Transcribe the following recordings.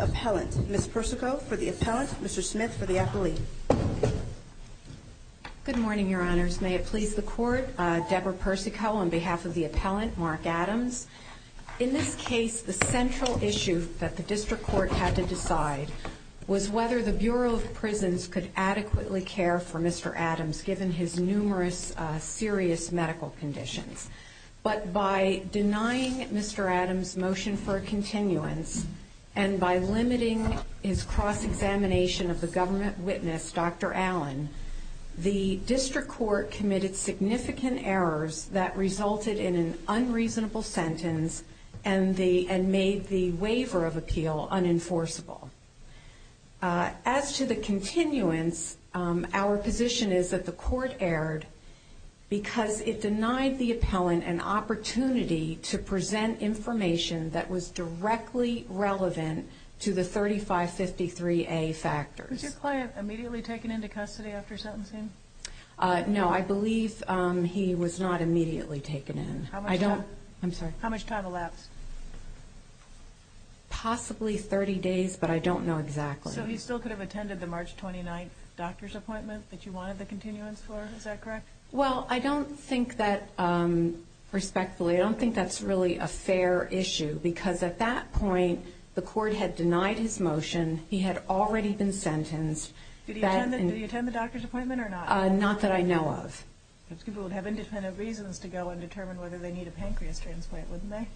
Appellant. Ms. Persico for the Appellant, Mr. Smith for the Appellee. Good morning, Your Honors. May it please the Court, Deborah Persico on behalf of the Appellant, Mark Adams. In this case, the central issue that the District Court had to decide was whether the Bureau of Prisons could adequately care for Mr. Adams, given his numerous criminal and numerous serious medical conditions. But by denying Mr. Adams' motion for a continuance and by limiting his cross-examination of the government witness, Dr. Allen, the District Court committed significant errors that resulted in an unreasonable sentence and made the waiver of appeal unenforceable. As to the continuance, our position is that the Court erred because it denied the Appellant an opportunity to present information that was directly relevant to the 3553A factors. Was your client immediately taken into custody after sentencing? No, I don't know exactly. So he still could have attended the March 29th doctor's appointment that you wanted the continuance for, is that correct? Well, I don't think that, respectfully, I don't think that's really a fair issue, because at that point, the Court had denied his motion, he had already been sentenced. Did he attend the doctor's appointment or not? Not that I know of. People would have independent reasons to go and determine whether they need a pancreas transplant, wouldn't they?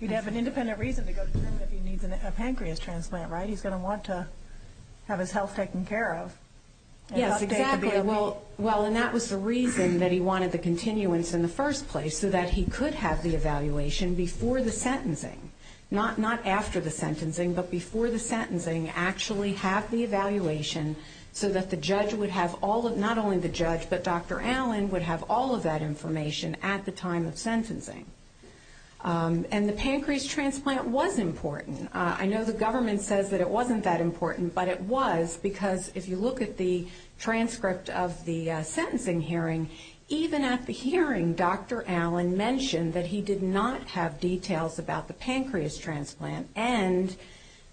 You'd have an independent reason to go and determine if he needs a pancreas transplant, right? He's going to want to have his health taken care of. Yes, exactly. Well, and that was the reason that he wanted the continuance in the first place, so that he could have the evaluation before the sentencing. Not after the sentencing, but before the sentencing, actually have the evaluation so that the judge would have all of, not only the judge, but Dr. Allen would have all of that information at the time of sentencing. And the pancreas transplant was important. I know the government says that it wasn't that important, but it was, because if you look at the transcript of the sentencing hearing, even at the hearing, Dr. Allen mentioned that he did not have details about the pancreas transplant, and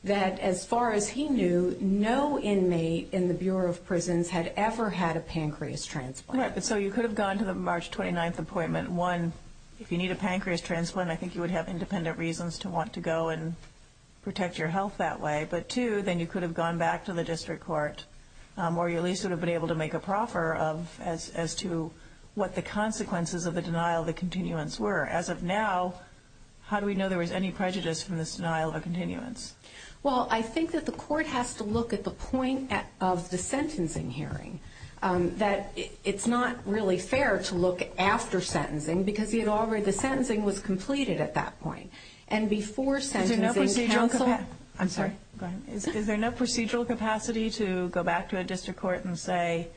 that as far as he knew, no inmate in the Bureau of Justice had ever had a pancreas transplant. Right, so you could have gone to the March 29th appointment. One, if you need a pancreas transplant, I think you would have independent reasons to want to go and protect your health that way. But two, then you could have gone back to the district court, or you at least would have been able to make a proffer as to what the consequences of the denial of the continuance were. As of now, how do we know there was any prejudice from this denial of a continuance? Well, I think that the court has to look at the point of the sentencing hearing, that it's not really fair to look after sentencing, because the sentencing was completed at that point. And before sentencing counsel... Is there no procedural capacity to go back to a district court and say,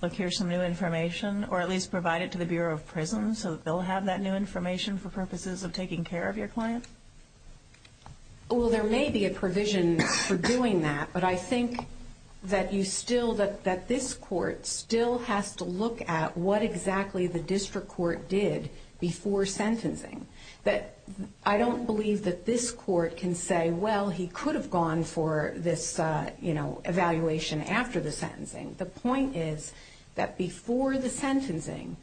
look, here's some new information, or at least provide it to the Bureau of Prisons so that they'll have that new information for purposes of taking care of your client? Well, there may be a provision for doing that, but I think that this court still has to look at what exactly the district court did before sentencing. I don't believe that this court can say, well, he could have gone for this evaluation after the sentencing. The point is that before the sentencing,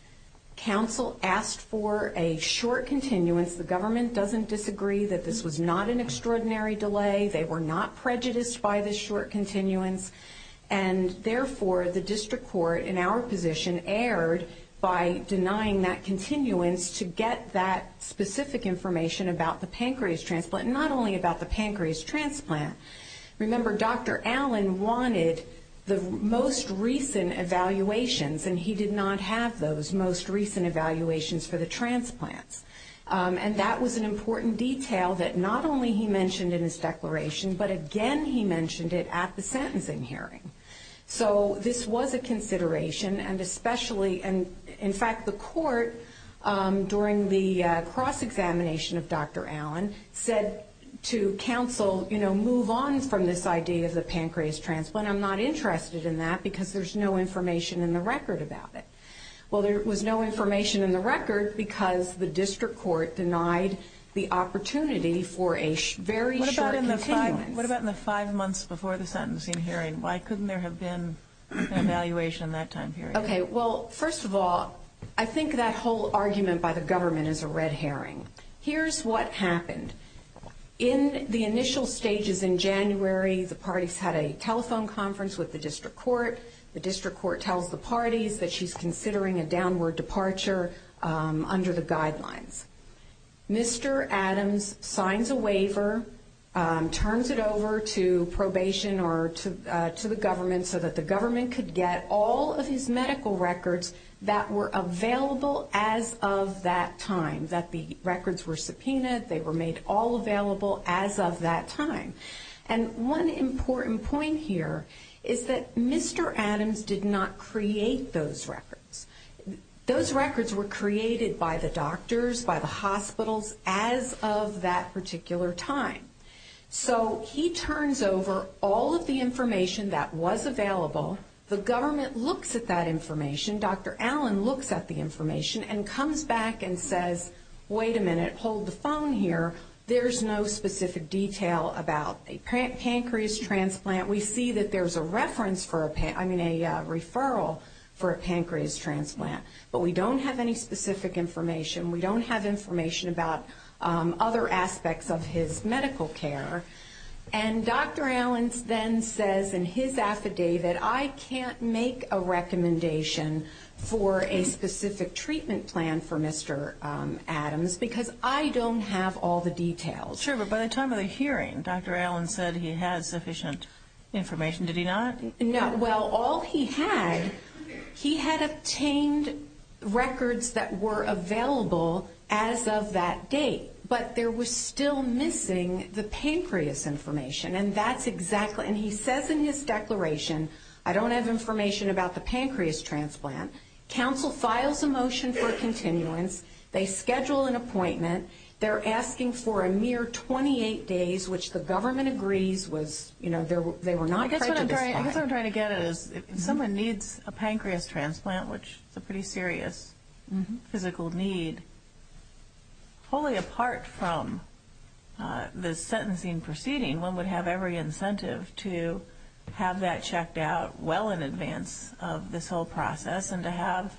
counsel asked for a short continuance. The government doesn't disagree that this was not an extraordinary delay. They were not prejudiced by the short continuance. And therefore, the district court, in our position, erred by denying that continuance to get that specific information about the pancreas transplant, and not only about the pancreas transplant. Remember, Dr. Allen wanted the most recent evaluations, and he did not have those most recent evaluations for the transplants. And that was an important detail that not only he mentioned in his declaration, but again, he mentioned it at the sentencing hearing. So this was a consideration, and especially, in fact, the court, during the cross-examination of Dr. Allen, said to counsel, you know, move on from this idea of the pancreas transplant. I'm not interested in that because there's no information in the record about it. Well, there was no information in the record because the district court denied the opportunity for a very short continuance. What about in the five months before the sentencing hearing? Why couldn't there have been an evaluation in that time period? Okay. Well, first of all, I think that whole argument by the government is a red herring. Here's what happened. In the initial stages in January, the parties had a telephone conference with the district court. The district court tells the parties that she's considering a downward departure under the guidelines. Mr. Adams signs a waiver, turns it over to probation or to the government so that the government could get all of his medical records that were available as of that time, that the records were subpoenaed, they were made all available as of that time. And one important point here is that Mr. Adams did not create those records. Those records were created by the doctors, by the hospitals as of that particular time. So he turns over all of the information that was available. The government looks at that information. Dr. Allen looks at the information and comes back and says, wait a minute, hold the phone here. There's no specific detail about a pancreas transplant. We see that there's a reference for a, I mean, a referral for a pancreas transplant. But we don't have any specific information. We don't have information about other aspects of his medical care. And Dr. Allen then says in his affidavit, I can't make a recommendation for a specific treatment plan for Mr. Adams because I don't have all the details. Sure, but by the time of the hearing, Dr. Allen said he had sufficient information. Did he not? No. Well, all he had, he had obtained records that were available as of that date. But there was still missing the pancreas information. And that's exactly, and he says in his declaration, I don't have information about the pancreas transplant. Counsel files a motion for continuance. They schedule an appointment for 28 days, which the government agrees was, you know, they were not prejudiced by. I guess what I'm trying to get at is if someone needs a pancreas transplant, which is a pretty serious physical need, wholly apart from the sentencing proceeding, one would have every incentive to have that checked out well in advance of this whole process and to have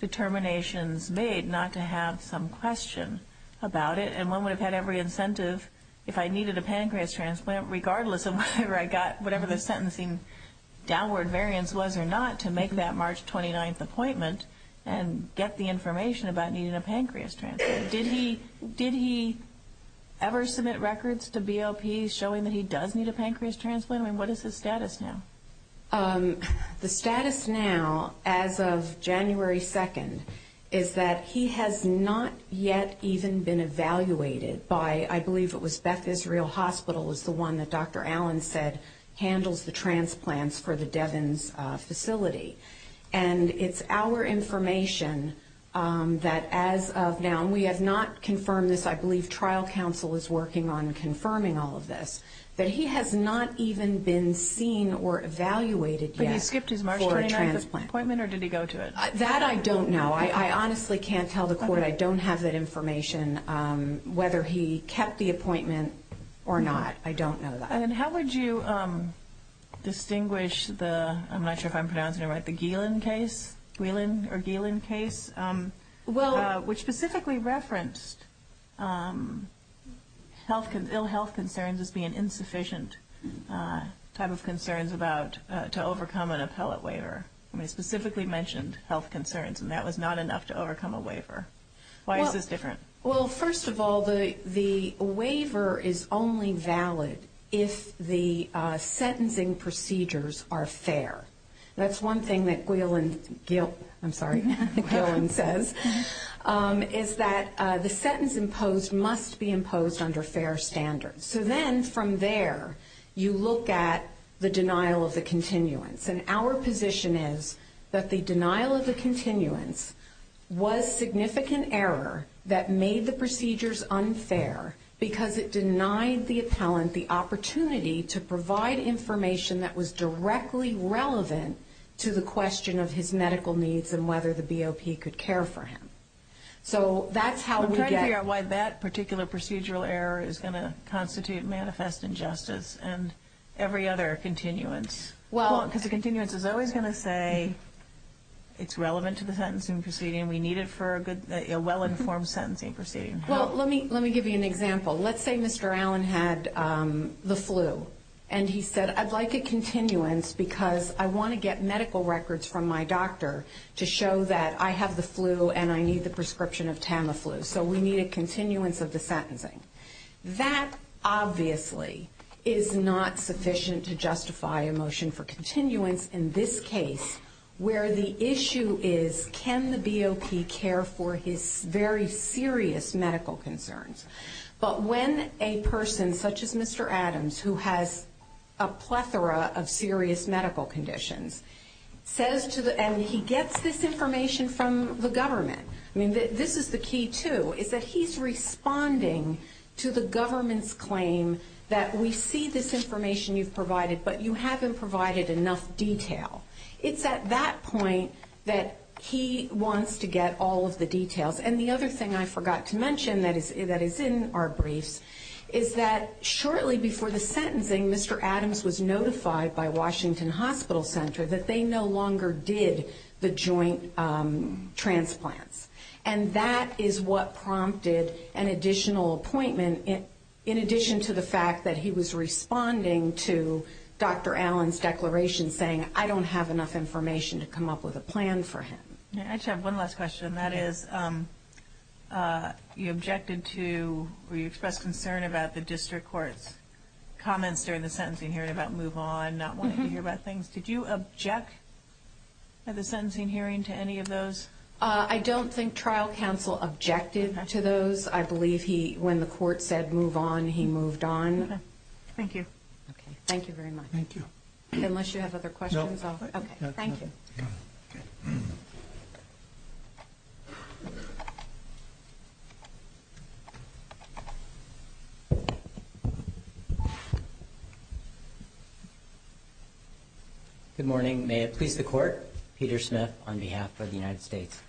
determinations made not to have some question about it. And one would have had every incentive if I needed a pancreas transplant, regardless of whatever I got, whatever the sentencing downward variance was or not, to make that March 29th appointment and get the information about needing a pancreas transplant. Did he ever submit records to BOP showing that he does need a pancreas transplant? I mean, what is his status now? The status now, as of January 2nd, is that he has not yet even been evaluated by, I believe it was Beth Israel Hospital is the one that Dr. Allen said handles the transplants for the Devens facility. And it's our information that as of now, and we have not confirmed this, I believe trial counsel is working on confirming all of this, that he has not even been seen or evaluated yet for a transplant. But he skipped his March 29th appointment, or did he go to it? That I don't know. I honestly can't tell the court. I don't have that information, whether he kept the appointment or not. I don't know that. And how would you distinguish the, I'm not sure if I'm pronouncing it right, the Gielen case, Gielen or Gielen case, which specifically referenced ill health concerns as being insufficient type of concerns to overcome an appellate waiver. I mean, it specifically mentioned health concerns, and that was not enough to overcome a waiver. Why is this different? Well, first of all, the waiver is only valid if the sentencing procedures are fair. That's one thing that Gielen, I'm sorry, Gielen says, is that the sentence imposed must be imposed under fair standards. So then from there, you look at the denial of the continuance. And our position is that the denial of the continuance was significant error that made the procedures unfair because it denied the appellant the opportunity to provide information that was directly relevant to the question of his medical needs and whether the BOP could care for him. So that's how we get... I'm trying to figure out why that particular procedural error is going to constitute manifest injustice and every other continuance. Well... Because the continuance is always going to say it's relevant to the sentencing proceeding. We need it for a well-informed sentencing proceeding. Well, let me give you an example. Let's say Mr. Allen had the flu, and he said, I'd like a continuance because I want to get medical records from my doctor to show that I have the flu and I need the prescription of Tamiflu. So we need a continuance of the sentencing. That obviously is not sufficient to justify a motion for continuance in this case, where the issue is, can the BOP care for his very serious medical concerns? But when a person such as Mr. Adams, who has a plethora of serious medical conditions, says to the... And he gets this information from the government. I mean, this is the key too, is that he's responding to the government's claim that we see this information you've provided, but you haven't provided enough detail. It's at that point that he wants to get all of the details. And the other thing I forgot to mention that is in our briefs is that shortly before the sentencing, Mr. Adams was notified by Washington Hospital Center that they no longer did the joint transplants. And that is what prompted an additional appointment, in addition to the fact that he was responding to Dr. Allen's declaration saying, I don't have enough information to come up with a plan for him. I just have one last question, and that is, you objected to, or you expressed concern about the district court's comments during the sentencing hearing about move on, not wanting to hear about things. Did you object at the sentencing hearing to any of those? I don't think trial counsel objected to those. I believe when the court said move on, he moved on. Okay. Thank you. Okay. Thank you very much. Thank you. Unless you have other questions? No. Okay. Thank you. Good morning. May it please the court, Peter Smith on behalf of the United States.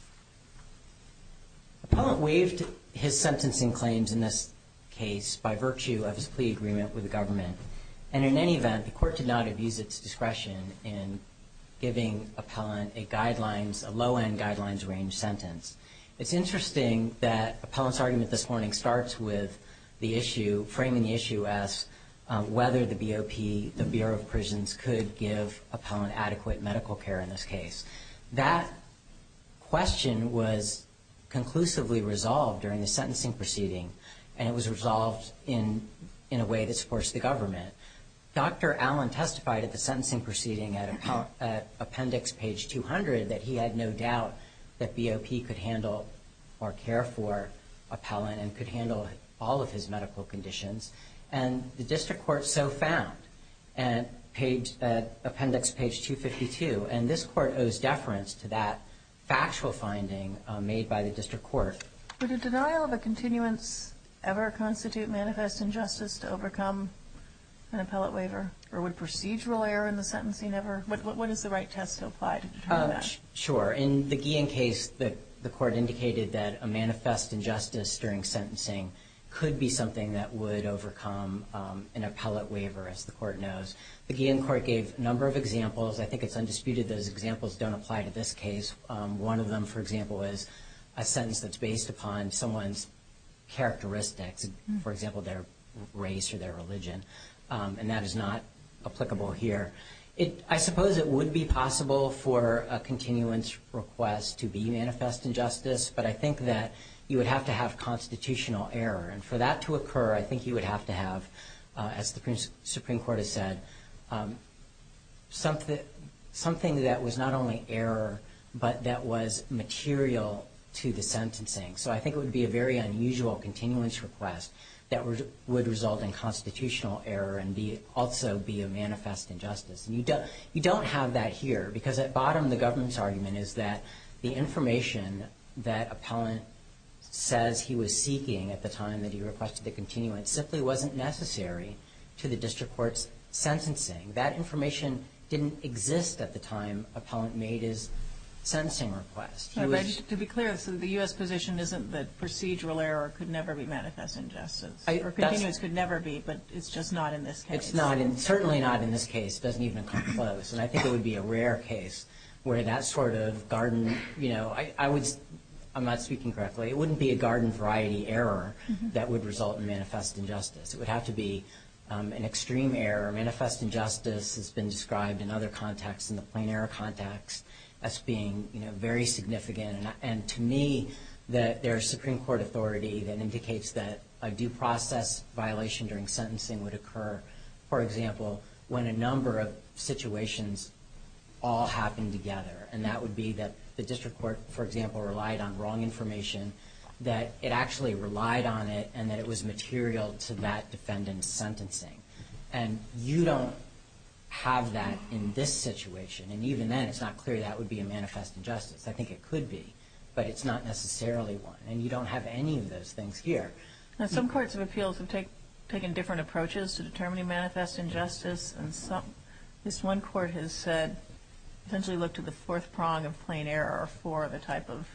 Appellant waived his sentencing claims in this case by virtue of his plea agreement with the government. And in any event, the court did not abuse its discretion in giving appellant a guidelines, a low-end guidelines range sentence. It's interesting that appellant's argument this morning starts with the issue, framing the issue as whether the BOP, the Bureau of Prisons could give appellant adequate medical care in this case. That question was conclusively resolved during the sentencing proceeding, and it was resolved in a way that supports the government. Dr. Allen testified at the sentencing proceeding at appendix page 200 that he had no doubt that BOP could handle or care for appellant and could handle all of his medical conditions. And the district court so found at appendix page 252. And this court owes deference to that factual finding made by the district court. Would a denial of a continuance ever constitute manifest injustice to overcome an appellant waiver? Or would procedural error in the sentencing ever? What is the right test to apply to determine that? Sure. In the Guillen case, the court indicated that a manifest injustice during sentencing could be something that would overcome an appellant waiver, as the court knows. The Guillen court gave a number of examples. I think it's undisputed those examples don't apply to this case. One of them, for example, is a sentence that's based upon someone's characteristics, for example, their race or their religion. And that is not applicable here. I suppose it would be possible for a continuance request to be manifest injustice, but I think that you would have to have constitutional error. And for that to occur, I think you would have to have, as the Supreme Court has said, something that was not only error, but that was material to the sentencing. So I think it would be a very unusual continuance request that would result in constitutional error and also be a manifest injustice. And you don't have that here, because at bottom of the government's argument is that the information that appellant says he was seeking at the time that he requested the continuance simply wasn't necessary to the district court's sentencing. That information didn't exist at the time appellant made his sentencing request. But to be clear, the U.S. position isn't that procedural error could never be manifest injustice. Or continuance could never be, but it's just not in this case. It's certainly not in this case. It doesn't even come close. And I think it would be a rare case where that sort of garden, you know, I'm not speaking correctly. It wouldn't be a garden variety error that would result in manifest injustice. It would have to be an extreme error. Manifest injustice has been described in other contexts, in the plain error context, as being, you know, very significant. And to me, there's Supreme Court authority that indicates that a due process violation during sentencing would occur, for example, when a number of situations all happen together. And that would be that the district court, for example, relied on wrong information, that it actually relied on it, and that it was material to that defendant's sentencing. And you don't have that in this situation. And even then, it's not clear that would be a manifest injustice. I think it could be, but it's not necessarily one. And you don't have any of those things here. Now, some courts of appeals have taken different approaches to determining manifest injustice. This one court has said, essentially looked at the fourth prong of plain error for the type of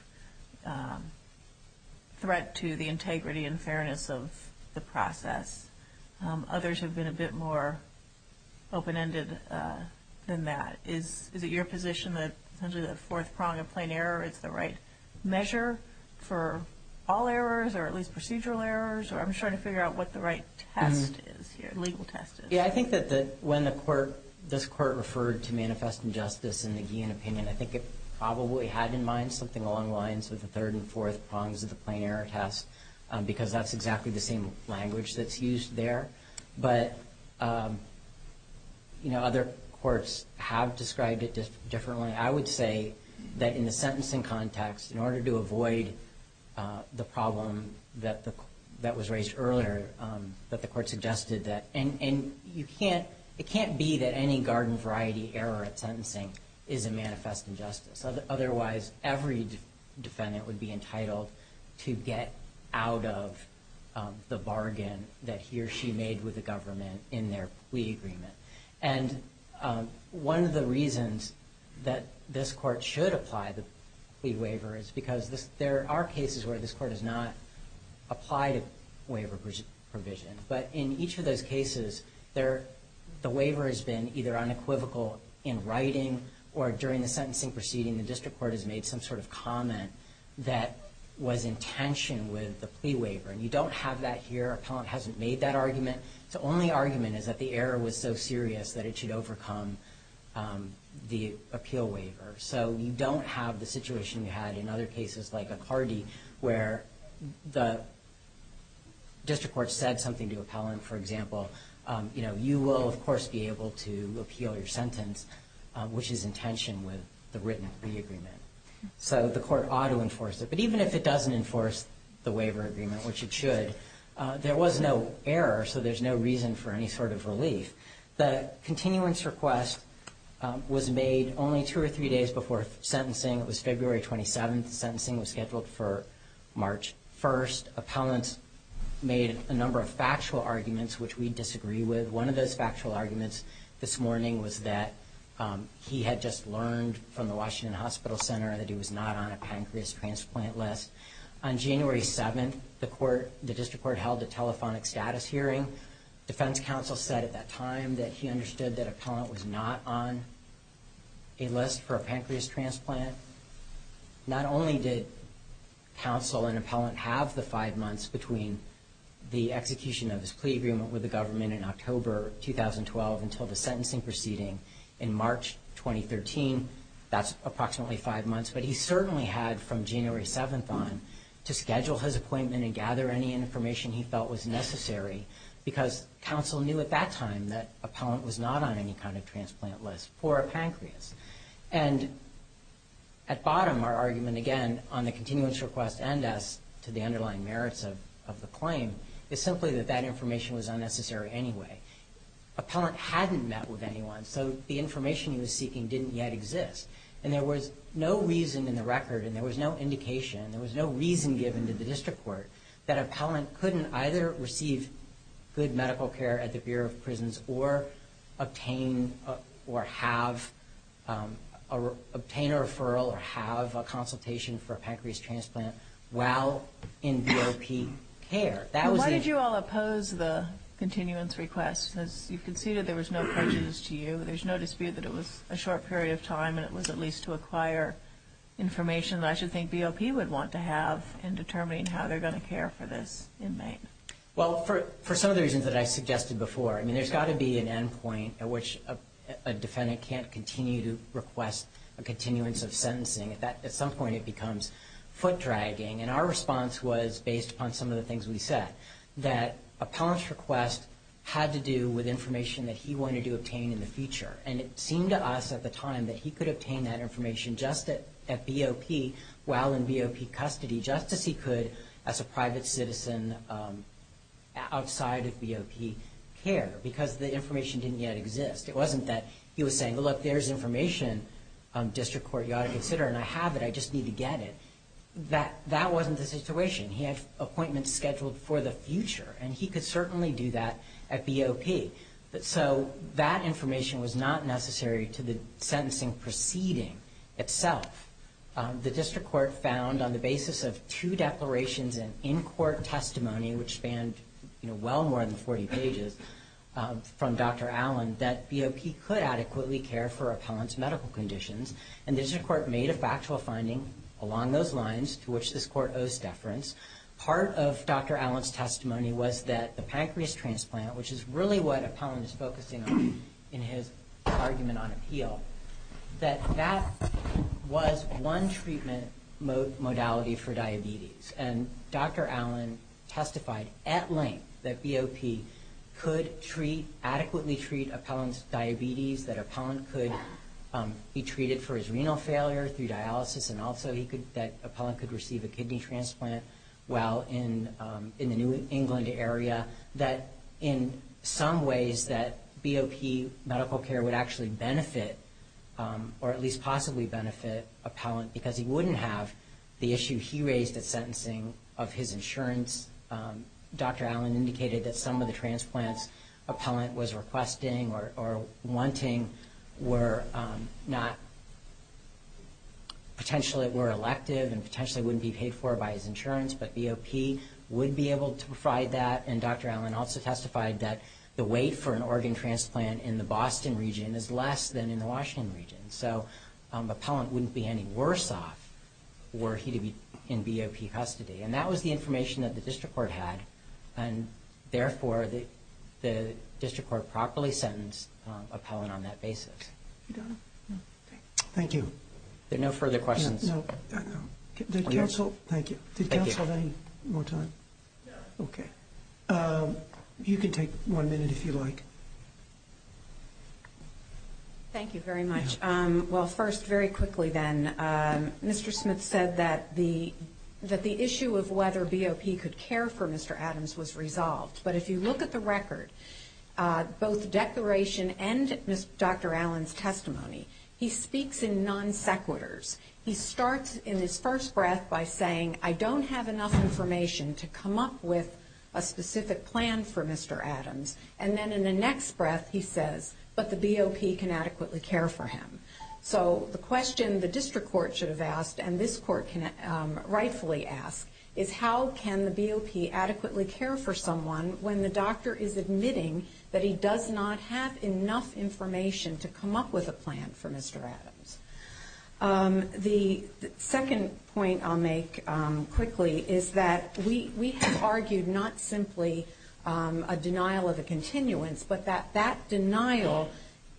threat to the integrity and fairness of the process. Others have been a bit more open-ended than that. Is it your position that essentially the fourth prong of plain error is the right measure for all errors, or at least procedural errors? Or I'm just trying to figure out what the right test is here, legal test is. Yeah, I think that when this court referred to manifest injustice in the Guillen opinion, I think it probably had in mind something along the lines of the third and fourth prongs of the plain error test, because that's exactly the same language that's used there. But, you know, other courts have described it differently. I would say that in the sentencing context, in order to avoid the problem that was raised earlier, that the court suggested that, and it can't be that any garden variety error at sentencing is a manifest injustice. Otherwise, every defendant would be entitled to get out of the bargain that he or she made with the government in their plea agreement. And one of the reasons that this court should apply the plea waiver is because there are cases where this court has not applied a waiver provision. But in each of those cases, the waiver has been either unequivocal in writing or during the sentencing proceeding the district court has made some sort of comment that was in tension with the plea waiver. And you don't have that here. Appellant hasn't made that argument. The only argument is that the error was so serious that it should overcome the appeal waiver. So you don't have the situation you had in other cases like Accardi, where the district court said something to appellant, for example. You know, you will, of course, be able to appeal your sentence, which is in tension with the written plea agreement. So the court ought to enforce it. But even if it doesn't enforce the waiver agreement, which it should, there was no error, so there's no reason for any sort of relief. The continuance request was made only two or three days before sentencing. It was February 27th. Sentencing was scheduled for March 1st. Appellant made a number of factual arguments, which we disagree with. One of those factual arguments this morning was that he had just learned from the Washington Hospital Center that he was not on a pancreas transplant list. On January 7th, the district court held a telephonic status hearing. Defense counsel said at that time that he understood that appellant was not on a list for a pancreas transplant. Not only did counsel and appellant have the five months between the execution of his plea agreement with the government in October 2012 until the sentencing proceeding in March 2013. That's approximately five months. But he certainly had from January 7th on to schedule his appointment and gather any information he felt was necessary, because counsel knew at that time that appellant was not on any kind of transplant list for a pancreas. And at bottom, our argument, again, on the continuance request and as to the underlying merits of the claim, is simply that that information was unnecessary anyway. Appellant hadn't met with anyone, so the information he was seeking didn't yet exist. And there was no reason in the record, and there was no indication, there was no reason given to the district court, that appellant couldn't either receive good medical care at the Bureau of Prisons or obtain or have a referral or have a consultation for a pancreas transplant while in BOP care. Why did you all oppose the continuance request? As you conceded, there was no prejudice to you, there's no dispute that it was a short period of time and it was at least to acquire information that I should think BOP would want to have in determining how they're going to care for this inmate. Well, for some of the reasons that I suggested before, I mean, there's got to be an end point at which a defendant can't continue to request a continuance of sentencing. At some point, it becomes foot-dragging. And our response was, based upon some of the things we said, that appellant's request had to do with information that he wanted to obtain in the future. And it seemed to us at the time that he could obtain that information just at BOP while in BOP custody, just as he could as a private citizen outside of BOP care, because the information didn't yet exist. It wasn't that he was saying, look, there's information, district court, you ought to consider it, and I have it, I just need to get it. That wasn't the situation. He had appointments scheduled for the future, and he could certainly do that at BOP. So that information was not necessary to the sentencing proceeding itself. The district court found on the basis of two declarations and in-court testimony, which spanned, you know, well more than 40 pages, from Dr. Allen, that BOP could adequately care for appellant's medical conditions. And the district court made a factual finding along those lines to which this court owes deference. Part of Dr. Allen's testimony was that the pancreas transplant, which is really what appellant is focusing on in his argument on appeal, that that was one treatment modality for diabetes. And Dr. Allen testified at length that BOP could adequately treat appellant's diabetes, that appellant could be treated for his renal failure through dialysis, and also that appellant could receive a kidney transplant while in the New England area, that in some ways that BOP medical care would actually benefit or at least possibly benefit appellant because he wouldn't have the issue he raised at sentencing of his insurance. Dr. Allen indicated that some of the transplants appellant was requesting or wanting were not potentially were elective and potentially wouldn't be paid for by his insurance, but BOP would be able to provide that. And Dr. Allen also testified that the weight for an organ transplant in the Boston region is less than in the Washington region. So appellant wouldn't be any worse off were he to be in BOP custody. And that was the information that the district court had. And therefore, the district court properly sentenced appellant on that basis. Thank you. There are no further questions. Thank you. Did counsel have any more time? No. Okay. You can take one minute if you like. Thank you very much. Well, first, very quickly then, Mr. Smith said that the issue of whether BOP could care for Mr. Adams was resolved. But if you look at the record, both the declaration and Dr. Allen's testimony, he speaks in non sequiturs. He starts in his first breath by saying, I don't have enough information to come up with a specific plan for Mr. Adams. And then in the next breath, he says, but the BOP can adequately care for him. So the question the district court should have asked, and this court can rightfully ask, is how can the BOP adequately care for someone when the doctor is admitting that he does not have enough information to come up with a plan for Mr. Adams? The second point I'll make quickly is that we have argued not simply a denial of a continuance, but that that denial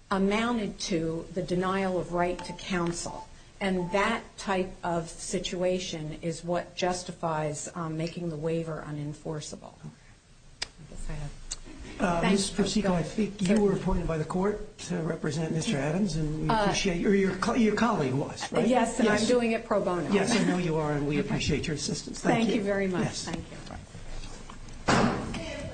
amounted to the denial of right to counsel. And that type of situation is what justifies making the waiver unenforceable. Ms. Proceco, I think you were appointed by the court to represent Mr. Adams. Your colleague was, right? Yes, and I'm doing it pro bono. Yes, I know you are, and we appreciate your assistance. Thank you. Thank you very much. Thank you.